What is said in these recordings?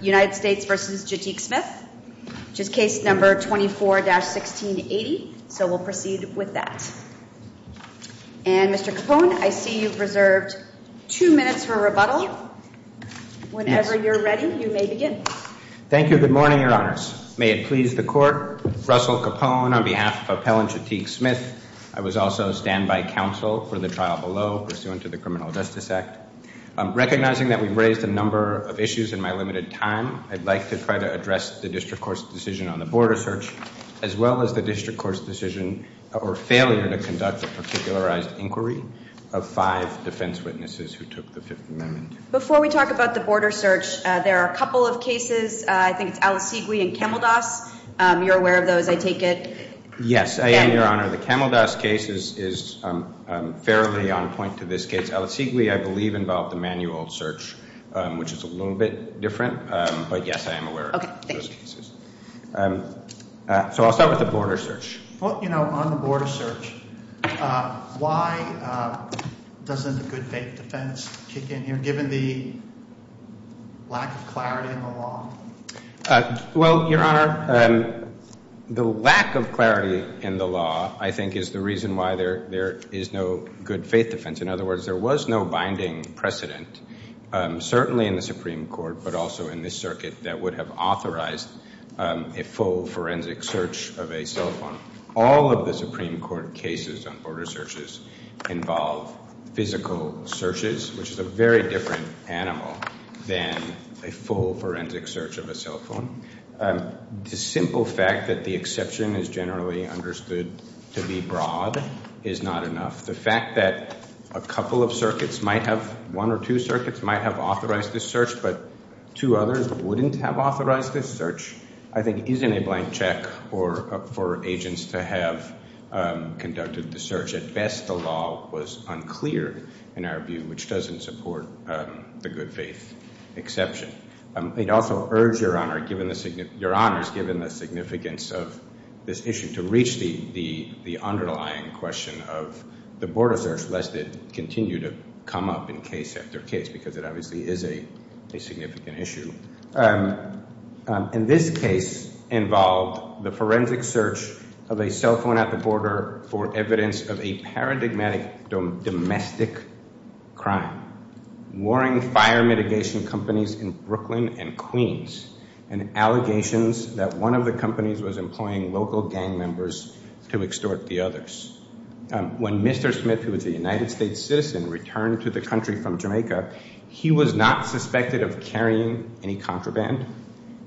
which is case number 24-1680. So we'll proceed with that. And Mr. Capone, I see you've reserved two minutes for rebuttal. Whenever you're ready, you may begin. Thank you. Good morning, Your Honors. May it please the Court. Russell Capone on behalf of Appellant Jatik Smith. I was also a standby counsel for the trial below pursuant to the Criminal Justice Act. Recognizing that we've raised a number of issues in my limited time, I'd like to try to address the district court's decision on the border search as well as the district court's decision or failure to conduct a particularized inquiry of five defense witnesses who took the Fifth Amendment. Before we talk about the border search, there are a couple of cases. I think it's Alicigwe and Kamaldas. You're aware of those, I take it? Yes, I am, Your Honor. The Kamaldas case is fairly on point to this case. Alicigwe, I believe, involved the manual search, which is a little bit different, but yes, I am aware of those cases. So I'll start with the border search. Well, you know, on the border search, why doesn't the good faith defense kick in here given the lack of clarity in the law? Well, Your Honor, the lack of clarity in the law, I think, is the reason why there is no good faith defense. In other words, there was no binding precedent, certainly in the Supreme Court, but also in this circuit, that would have authorized a full forensic search of a cell phone. All of the Supreme Court cases on border searches involve physical searches, which is a very different animal than a full forensic search of a cell phone. The simple fact that the exception is generally understood to be broad is not enough. The fact that a couple of circuits might have, one or two circuits, might have authorized this search, but two others wouldn't have authorized this search, I think, isn't a blank check for agents to have conducted the search. At best, the law was unclear, in our view, which doesn't support the good faith exception. I'd also urge, Your Honor, given the significance of this issue, to reach the underlying question of the border search, lest it continue to come up in case after case, because it obviously is a significant issue. And this case involved the forensic search of a cell phone at the border for evidence of a paradigmatic domestic crime. Warring fire mitigation companies in Brooklyn and Queens, and allegations that one of the companies was employing local gang members to extort the others. When Mr. Smith, who was a United States citizen, returned to the country from Jamaica, he was not suspected of carrying any contraband.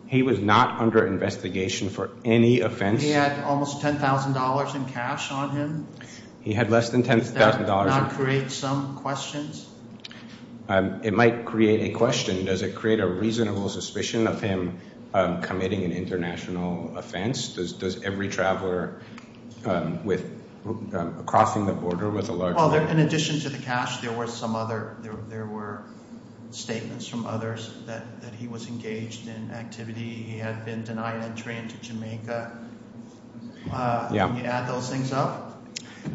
He was not under investigation for any offense. He had almost ten thousand dollars on him. He had less than ten thousand dollars. Does that not create some questions? It might create a question. Does it create a reasonable suspicion of him committing an international offense? Does every traveler crossing the border with a large... Well, in addition to the cash, there were some other, there were statements from others that he was engaged in activity. He had been denied entry into Jamaica. Can you add those things up?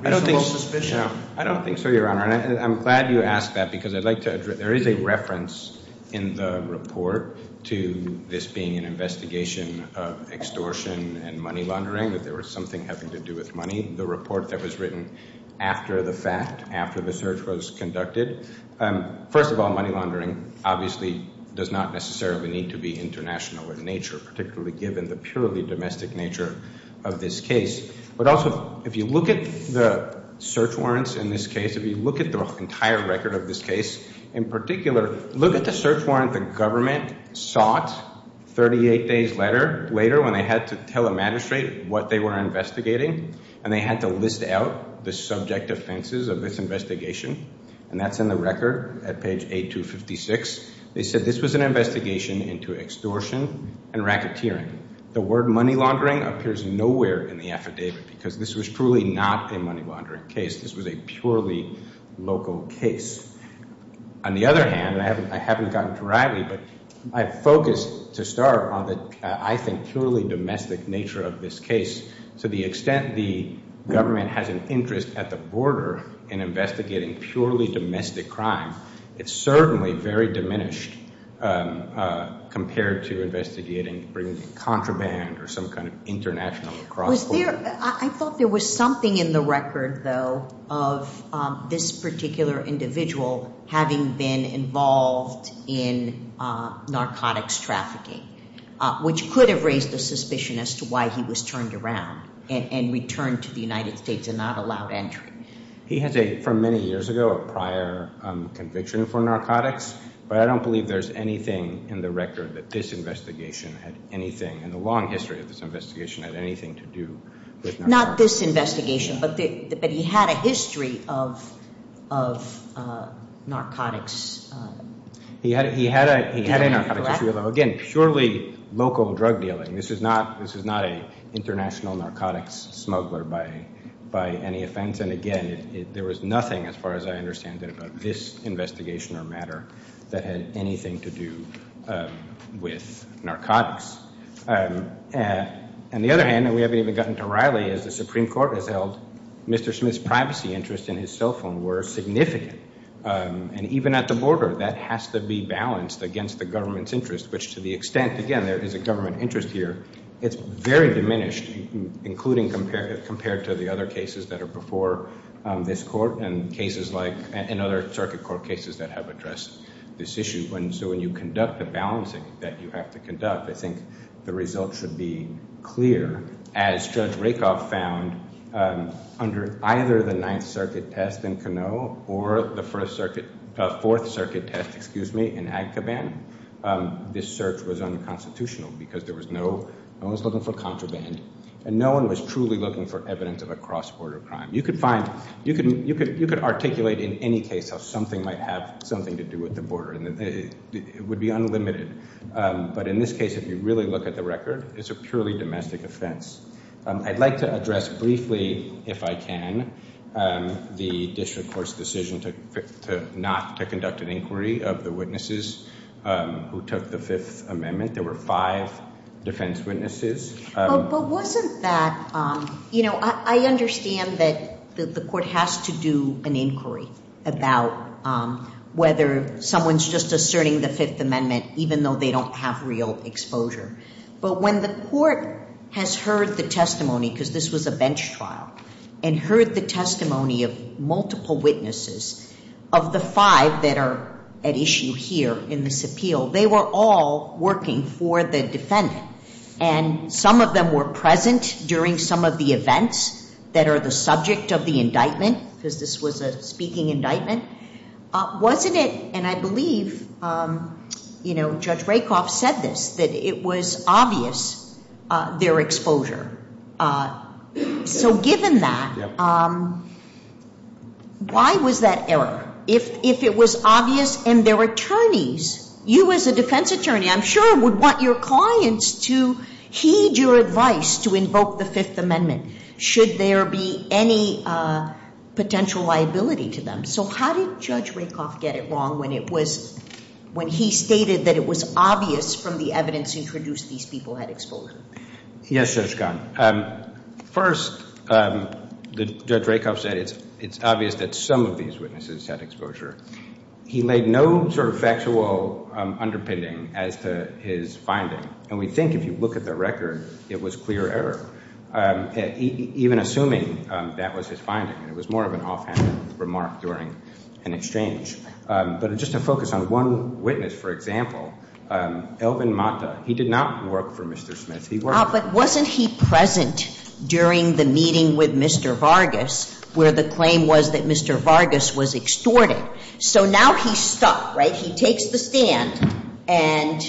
I don't think so, your honor. I'm glad you asked that, because I'd like to, there is a reference in the report to this being an investigation of extortion and money laundering, that there was something having to do with money. The report that was written after the fact, after the search was conducted. First of all, obviously does not necessarily need to be international in nature, particularly given the purely domestic nature of this case. But also, if you look at the search warrants in this case, if you look at the entire record of this case, in particular, look at the search warrant the government sought 38 days later, when they had to tell a magistrate what they were investigating, and they had to list out the subject offenses of this investigation, and that's in the record at page 256. They said this was an investigation into extortion and racketeering. The word money laundering appears nowhere in the affidavit, because this was truly not a money laundering case. This was a purely local case. On the other hand, and I haven't gotten to Riley, but I focused to start on the, I think, purely domestic nature of this case. To the extent the government has an interest at the border in investigating purely domestic crime, it's certainly very diminished compared to investigating bringing in contraband or some kind of international cross. Was there, I thought there was something in the record, though, of this particular individual having been involved in narcotics trafficking, which could have raised the suspicion as to why he was turned around and returned to the United States and not allowed entry? He has a, from many years ago, a prior conviction for narcotics, but I don't believe there's anything in the record that this investigation had anything, in the long history of this investigation, had anything to do with Not this investigation, but he had a history of narcotics. He had a narcotics history, again, purely local drug dealing. This is not a international narcotics smuggler by any offense, and again, there was nothing, as far as I understand it, about this investigation or matter that had anything to do with narcotics. On the other hand, and we haven't even gotten to Riley, as the Supreme Court has held, Mr. Smith's privacy interests in his cell phone were significant, and even at the border, that has to be balanced against the government's interest, which to the extent, again, there is a government interest here, it's very diminished, including compared to the other cases that are before this court and cases like, and other circuit court cases that have addressed this issue. So when you conduct the balancing that you have to conduct, I think the results should be clear, as Judge Rakoff found under either the Ninth Circuit test in Canoe or the First Circuit, Fourth Circuit test, excuse me, in Agkaban, this search was unconstitutional because there was no, no one was looking for contraband, and no one was truly looking for evidence of a cross-border crime. You could find, you could articulate in any case how something might have something to do with the border, and it would be unlimited, but in this case, if you really look at the record, it's a purely domestic offense. I'd like to address briefly, if I can, the district court's decision to not to conduct an inquiry of the witnesses who took the Fifth Amendment. There were five defense witnesses. But wasn't that, you know, I understand that the court has to do an inquiry about whether someone's just asserting the Fifth Amendment, even though they don't have real exposure, but when the court has heard the testimony, because this was a bench trial, and heard the testimony of multiple witnesses, of the five that are at issue here in this appeal, they were all working for the defendant, and some of them were present during some of the events that are the subject of the indictment, because this was a speaking indictment. Wasn't it, and I believe, you know, Judge Rakoff said this, it was obvious their exposure. So given that, why was that error? If it was obvious, and their attorneys, you as a defense attorney, I'm sure would want your clients to heed your advice to invoke the Fifth Amendment, should there be any potential liability to them. So how did Judge Rakoff and his defense introduce these people had exposure? Yes, Judge Kahn. First, Judge Rakoff said it's obvious that some of these witnesses had exposure. He laid no sort of factual underpinning as to his finding, and we think if you look at the record, it was clear error, even assuming that was his finding. It was more of an offhand remark during an exchange. But just to focus on one witness, for example, Elvin Mata. He did not work for Mr. Smith. He worked for him. But wasn't he present during the meeting with Mr. Vargas, where the claim was that Mr. Vargas was extorted? So now he's stuck, right? He takes the stand, and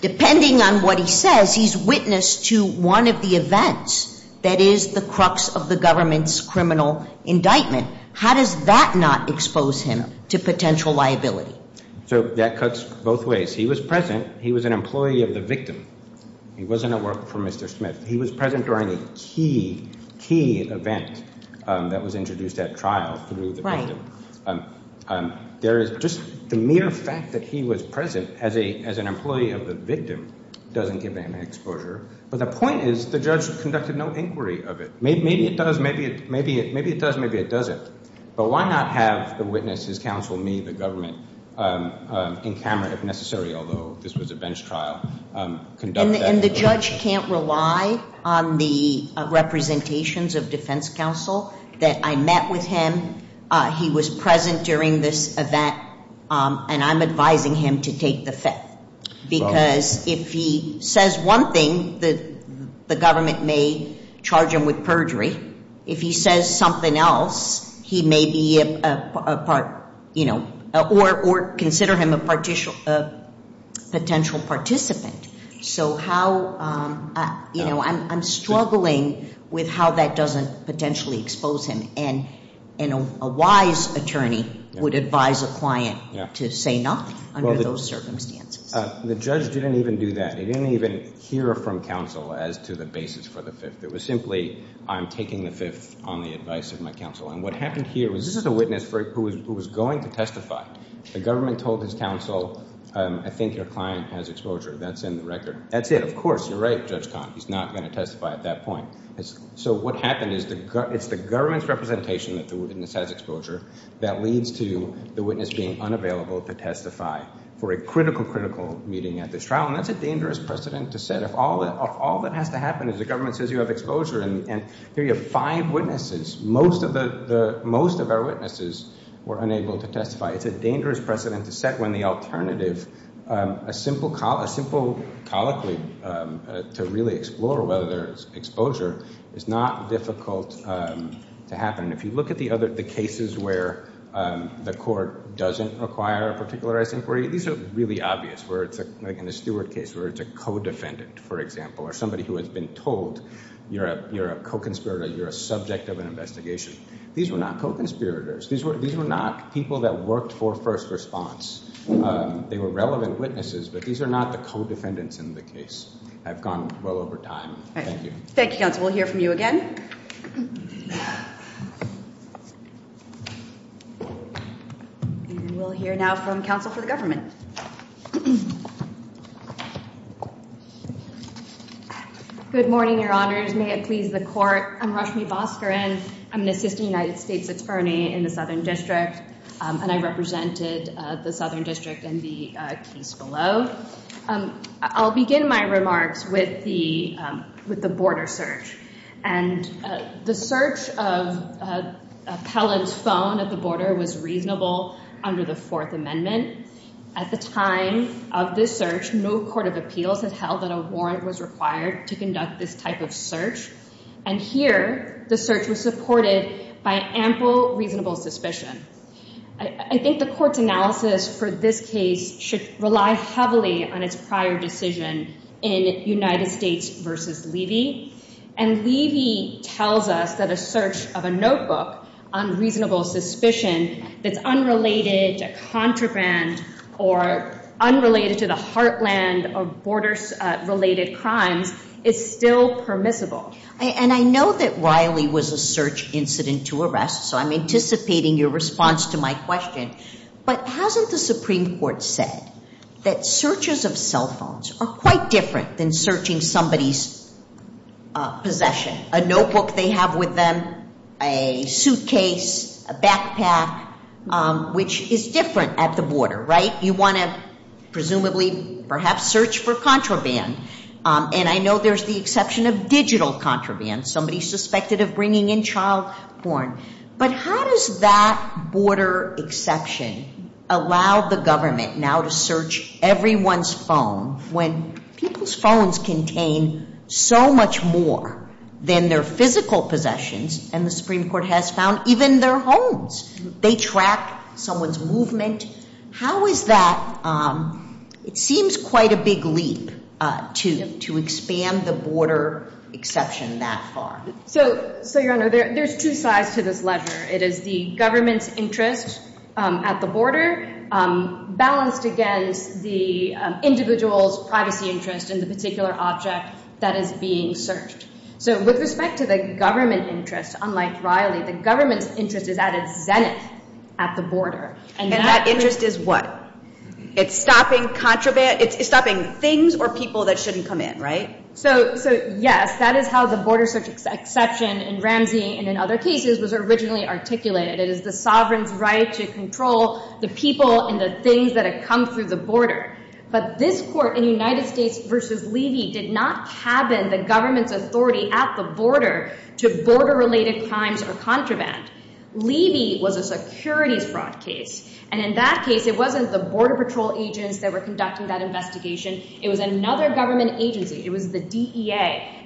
depending on what he says, he's witness to one of the events that is the crux of the government's criminal indictment. How does that not expose him to potential liability? So that cuts both ways. He was present. He was an employee of the victim. He wasn't at work for Mr. Smith. He was present during a key event that was introduced at trial through the victim. There is just the mere fact that he was present as an employee of the victim doesn't give him an exposure. But the point is the judge conducted no inquiry of it. Maybe it does. Maybe it does. Maybe it doesn't. But why not have the witness, his counsel, me, the government, in camera if necessary, although this was a bench trial. And the judge can't rely on the representations of defense counsel that I met with him. He was present during this event, and I'm advising him to take the fact. Because if he says one thing, the government may charge him with perjury. If he says something else, he may be a part, you know, or consider him a potential participant. So how, you know, I'm struggling with how that doesn't potentially expose him. And a wise attorney would advise a client to say no under those circumstances. The judge didn't even do that. He didn't even hear from counsel as to the basis for the fifth. It was simply I'm taking the fifth on the advice of my counsel. And what happened here was this is a witness who was going to testify. The government told his counsel, I think your client has exposure. That's in the record. That's it. Of course, you're right, Judge Kahn. He's not going to testify at that point. So what happened is it's the government's representation that the witness has exposure that leads to the witness being unavailable to testify for a critical, meeting at this trial. And that's a dangerous precedent to set. If all that has to happen is the government says you have exposure and here you have five witnesses. Most of our witnesses were unable to testify. It's a dangerous precedent to set when the alternative, a simple colloquy to really explore whether there's exposure is not difficult to happen. If you look at the other, the cases where the court doesn't require a particularized inquiry, these are really obvious where it's like in the Stewart case where it's a co-defendant, for example, or somebody who has been told you're a co-conspirator, you're a subject of an investigation. These were not co-conspirators. These were not people that worked for first response. They were relevant witnesses, but these are not the co-defendants in the case. I've gone well over time. Thank you. Thank you, counsel. We'll hear from you again. And we'll hear now from counsel for the government. Good morning, your honors. May it please the court. I'm Rashmi Bhaskaran. I'm an assistant United States attorney in the Southern District, and I represented the Southern District in the case below. I'll begin my remarks with the border search. And the search of appellant's phone at the border was reasonable under the Fourth Amendment. At the time of this search, no court of appeals had held that a warrant was required to conduct this type of search. And here, the search was supported by ample reasonable suspicion. I think the court's relied heavily on its prior decision in United States v. Levy. And Levy tells us that a search of a notebook on reasonable suspicion that's unrelated to contraband or unrelated to the heartland or border-related crimes is still permissible. And I know that Riley was a search incident to arrest, so I'm anticipating your response to my question. But hasn't the Supreme Court said that searches of cell phones are quite different than searching somebody's possession? A notebook they have with them, a suitcase, a backpack, which is different at the border, right? You want to presumably perhaps search for contraband. And I know there's the exception of digital contraband, somebody suspected of bringing in child porn. But how does that border exception allow the government now to search everyone's phone when people's phones contain so much more than their physical possessions? And the Supreme Court has found even their homes. They track someone's movement. How is that? It seems quite a big leap to expand the border exception that far. So, Your Honor, there's two sides to this letter. It is the government's interest at the border balanced against the individual's privacy interest in the particular object that is being searched. So with respect to the government interest, unlike Riley, the government's interest is at its zenith at the border. And that interest is what? It's stopping contraband? It's stopping things or people that shouldn't come in, right? So, yes, that is how the border exception in Ramsey and in other cases was originally articulated. It is the sovereign's right to control the people and the things that have come through the border. But this court in United States versus Levy did not cabin the government's authority at the border to border-related crimes or contraband. Levy was a securities fraud case. And in that case, it wasn't the Border Patrol agents that were conducting that investigation. It was another government agency. It was the DEA.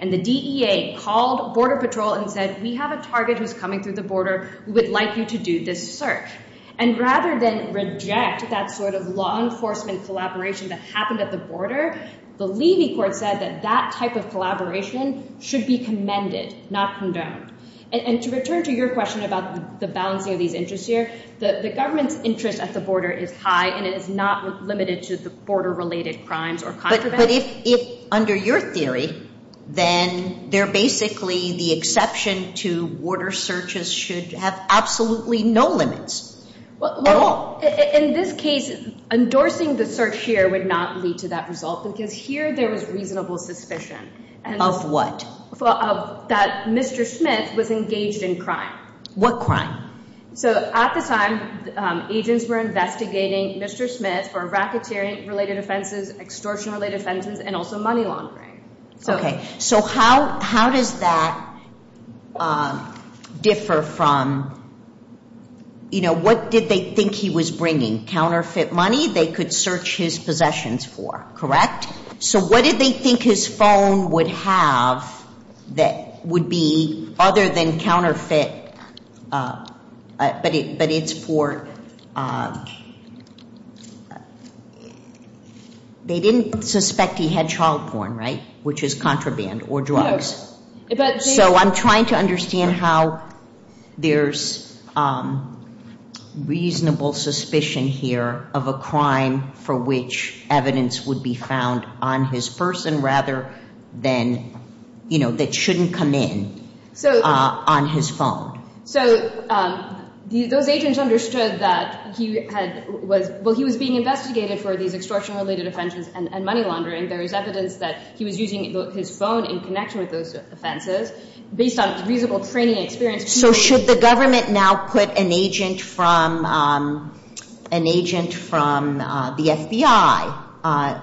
And the DEA called Border Patrol and said, we have a target who's coming through the border. We would like you to do this search. And rather than reject that sort of law enforcement collaboration that happened at the border, the Levy court said that that type of collaboration should be commended, not condoned. And to return to your question about the balancing of these interests here, the government's interest at the border is high and it is not limited to the then they're basically the exception to border searches should have absolutely no limits. In this case, endorsing the search here would not lead to that result because here there was reasonable suspicion. Of what? That Mr. Smith was engaged in crime. What crime? So at the time, agents were investigating Mr. Smith for racketeering-related offenses, extortion-related offenses, and also money laundering. Okay. So how does that differ from, you know, what did they think he was bringing? Counterfeit money they could search his possessions for, correct? So what did they think his phone would have that would be other than counterfeit, but it's for, they didn't suspect he had child porn, right? Which is contraband or drugs. So I'm trying to understand how there's reasonable suspicion here of a crime for which evidence would be found on his person rather than, you know, that shouldn't come in on his phone. So those agents understood that he was being investigated for these extortion-related offenses and money laundering. There is evidence that he was using his phone in connection with those offenses based on reasonable training experience. So should the government now put an agent from the FBI,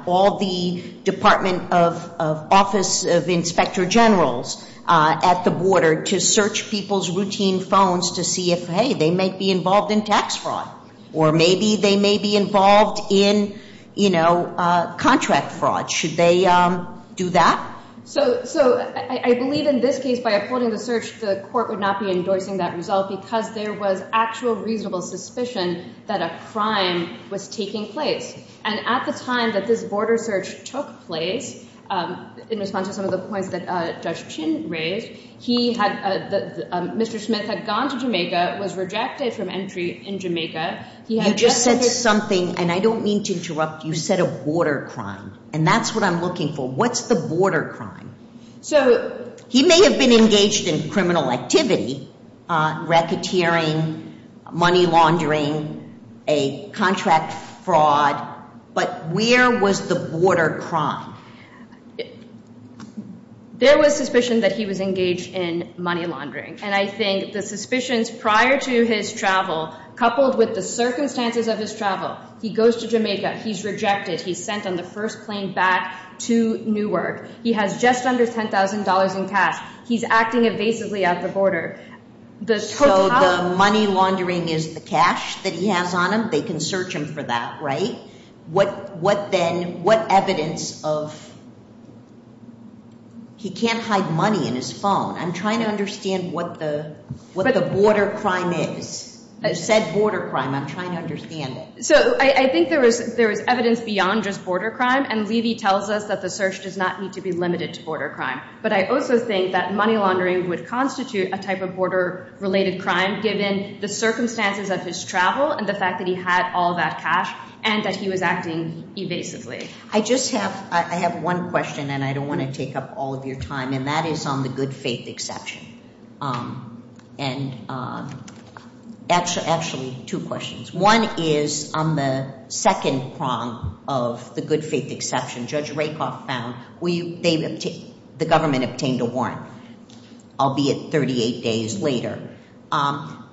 all the Department of Office of Inspector Generals at the border to search people's routine phones to see if, hey, they might be involved in tax fraud or maybe they may be involved in, you know, contract fraud. Should they do that? So I believe in this case, by uploading the search, the court would not be endorsing that result because there was actual reasonable suspicion that a crime was taking place. And at the time that this border search took place, in response to some of the points that Judge Chin raised, he had, Mr. Smith had gone to Jamaica, was rejected from entry in Jamaica. You just said something, and I don't mean to interrupt, you said a border crime, and that's what I'm looking for. What's the border crime? So he may have been engaged in criminal activity, racketeering, money laundering, a contract fraud, but where was the border crime? There was suspicion that he was engaged in money laundering, and I think the suspicions prior to his travel, coupled with the circumstances of his travel, he goes to Jamaica, he's rejected, he's sent on the first plane back to Newark, he has just under $10,000 in cash, he's acting evasively at the border. So the money laundering is the cash that he has on him, they can search him for that, right? What evidence of, he can't hide money in his phone, I'm trying to understand what the border crime is. You said border crime, I'm trying to understand it. So I think there was evidence beyond just border crime, and Levy tells us that the search does not need to be limited to border crime. But I also think that money laundering would constitute a type of border-related crime, given the circumstances of his travel, and the fact that he had all that cash, and that he was acting evasively. I just have, I have one question, and I don't want to take up all of your time, and that is on the good faith exception. And actually, two questions. One is on the second prong of the good faith exception, Judge Rakoff found, the government obtained a warrant, albeit 38 days later.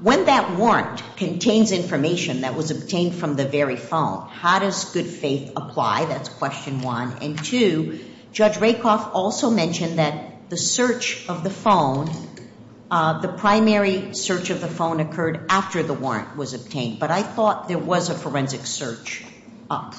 When that warrant contains information that was obtained from the very phone, how does good faith apply? That's question one. And two, Judge Rakoff also mentioned that the search of the phone, the primary search of the phone occurred after the warrant was obtained. But I thought there was a forensic search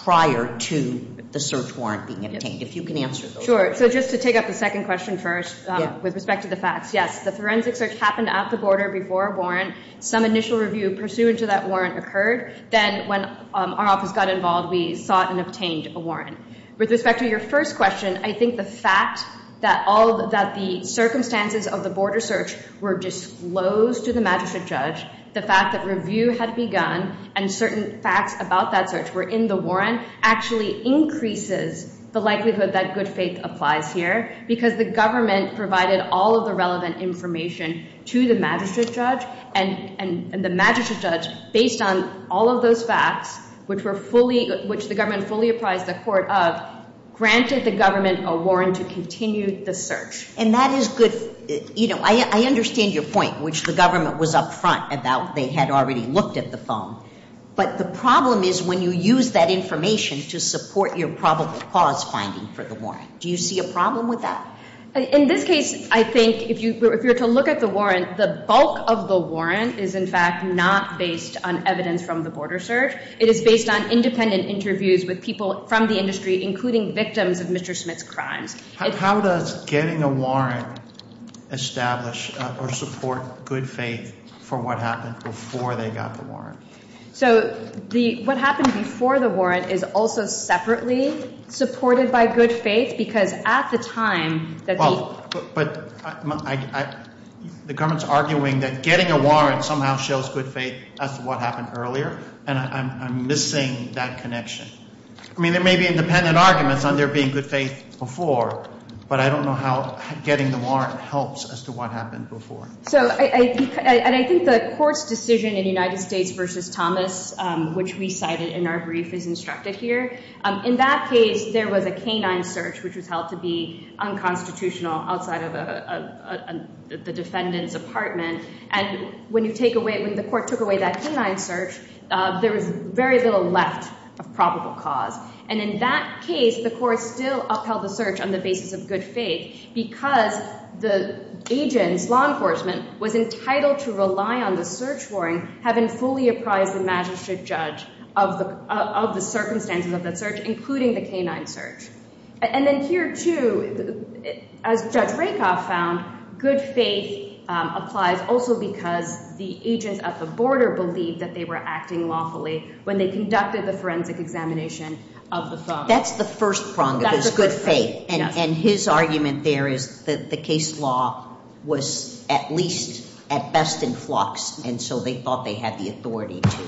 prior to the search warrant being obtained, if you can answer those. Sure, so just to take up the second question first, with respect to the facts, yes, the forensic search happened at the border before a warrant. Some initial review pursuant to that occurred. Then when our office got involved, we sought and obtained a warrant. With respect to your first question, I think the fact that all, that the circumstances of the border search were disclosed to the magistrate judge, the fact that review had begun, and certain facts about that search were in the warrant, actually increases the likelihood that good faith applies here, because the government provided all of the relevant information to the magistrate judge, and the magistrate judge, based on all of those facts, which the government fully applies the court of, granted the government a warrant to continue the search. And that is good, you know, I understand your point, which the government was up front about they had already looked at the phone. But the problem is when you use that information to support your probable cause finding for the warrant. Do you see a problem with that? In this case, I think if you were to look at the warrant, the bulk of the warrant is in fact not based on evidence from the border search. It is based on independent interviews with people from the industry, including victims of Mr. Smith's crimes. How does getting a warrant establish or support good faith for what happened before they got the warrant? So what happened before the warrant is also separately supported by good faith, because at the time that the government's arguing that getting a warrant somehow shows good faith as to what happened earlier, and I'm missing that connection. I mean, there may be independent arguments on there being good faith before, but I don't know how getting the warrant helps as to what happened before. So I think the court's United States versus Thomas, which we cited in our brief is instructed here. In that case, there was a canine search, which was held to be unconstitutional outside of the defendant's apartment. And when you take away, when the court took away that canine search, there was very little left of probable cause. And in that case, the court still upheld the search on the basis of good faith because the agent's law enforcement was entitled to rely on the search warrant having fully apprised the magistrate judge of the circumstances of that search, including the canine search. And then here too, as Judge Rakoff found, good faith applies also because the agents at the border believed that they were acting lawfully when they conducted the forensic examination of the suspect. That's the first prong of this, good faith. And his argument there is that the case law was at least at best in flux, and so they thought they had the authority to...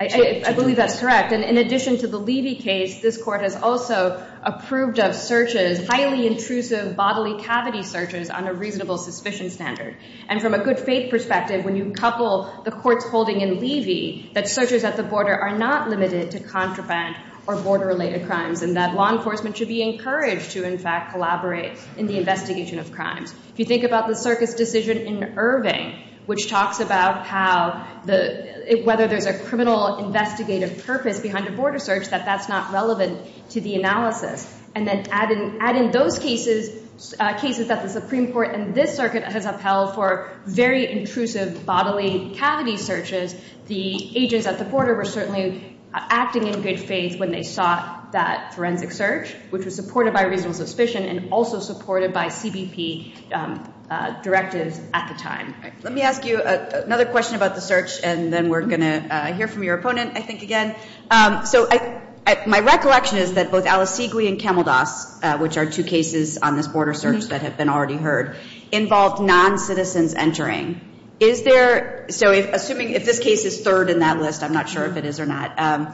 I believe that's correct. And in addition to the Levy case, this court has also approved of searches, highly intrusive bodily cavity searches on a reasonable suspicion standard. And from a good faith perspective, when you couple the court's holding in Levy, that searches at the border are not limited to contraband or border-related crimes, and that law enforcement should be encouraged to, in fact, collaborate in the investigation of crimes. If you think about the circuit's decision in Irving, which talks about whether there's a criminal investigative purpose behind a border search, that that's not relevant to the analysis. And then add in those cases that the Supreme Court and this circuit has upheld for very intrusive bodily cavity searches, the agents at the border were certainly acting in good faith when they sought that forensic search, which was supported by reasonable suspicion and also supported by CBP directives at the time. Let me ask you another question about the search, and then we're going to hear from your opponent, I think, again. So my recollection is that both Alicigui and Kamaldas, which are two cases on this border search that have been already heard, involved non-citizens entering. So assuming if this case is third in that list, I'm not sure if it is or not,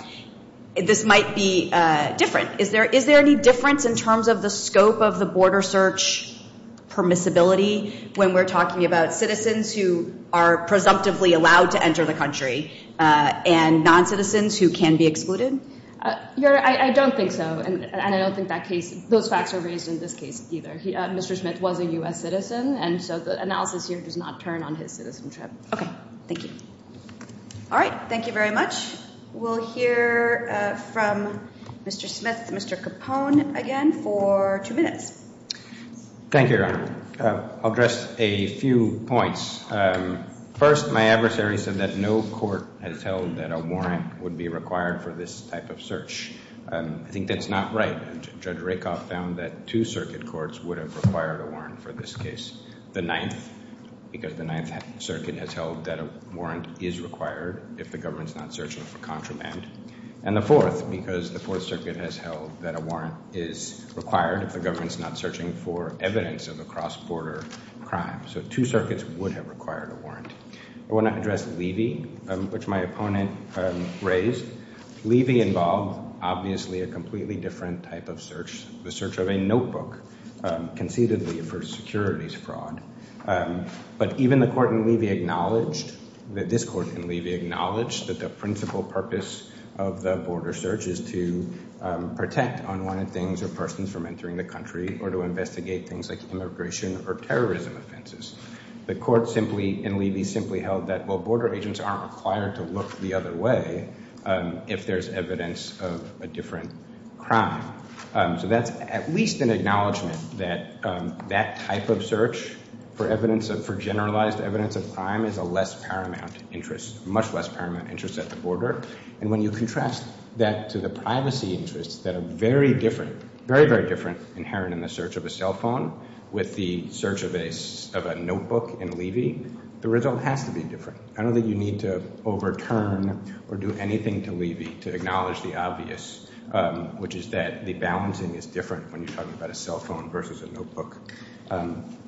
this might be different. Is there any difference in terms of the scope of the border search permissibility when we're talking about citizens who are presumptively allowed to enter the country and non-citizens who can be excluded? Your Honor, I don't think so, and I don't think those facts are raised in this case either. Mr. Smith was a U.S. citizen, and so the analysis here does not turn on his citizenship. Okay. Thank you. All right. Thank you very much. We'll hear from Mr. Smith, Mr. Capone again for two minutes. Thank you, Your Honor. I'll address a few points. First, my adversary said that no court has held that a warrant would be required for this type of search. I think that's not right. Judge Rakoff found that two circuit courts would have required a warrant for this case. The Ninth, because the Ninth Circuit has held that a warrant is required if the government's not searching for contraband. And the Fourth, because the Fourth Circuit has held that a warrant is required if the government's not searching for evidence of a cross-border crime. So two circuits would have required a warrant. I want to address Levy, which my opponent raised. Levy involved, obviously, a completely different type of search, the search of a notebook, conceitedly, for securities fraud. But even the court in Levy acknowledged, that this court in Levy acknowledged, that the principal purpose of the border search is to protect unwanted things or persons from entering the country or to investigate things like immigration or terrorism offenses. The court simply, in Levy, simply held that while border agents aren't required to look the other way, if there's evidence of a different crime. So that's at least an acknowledgement that that type of search for evidence of, for generalized evidence of crime, is a less paramount interest, much less paramount interest at the border. And when you contrast that to the privacy interests that are very different, very, very different, inherent in the search of a cell phone with the search of a notebook in Levy, the result has to be different. I don't think you need to overturn or do anything to Levy to acknowledge the obvious, which is that the balancing is different when you're talking about a cell phone versus a notebook.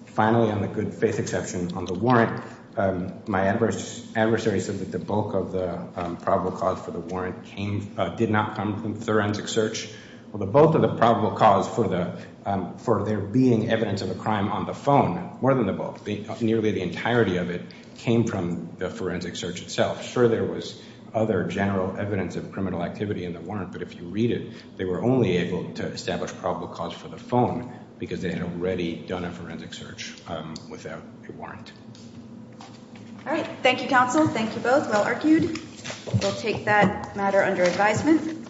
Finally, on the good faith exception on the warrant, my adversary said that the bulk of the probable cause for the warrant came, did not come from forensic search. Well, the bulk of the probable cause for the, for there being evidence of a crime on the phone, more than the bulk, nearly the entirety of it came from the forensic search itself. Sure, there was other general evidence of criminal activity in the warrant, but if you read it, they were only able to establish probable cause for the phone because they had already done a forensic search without a warrant. All right. Thank you, counsel. Thank you both. Well argued. We'll take that matter under advisement.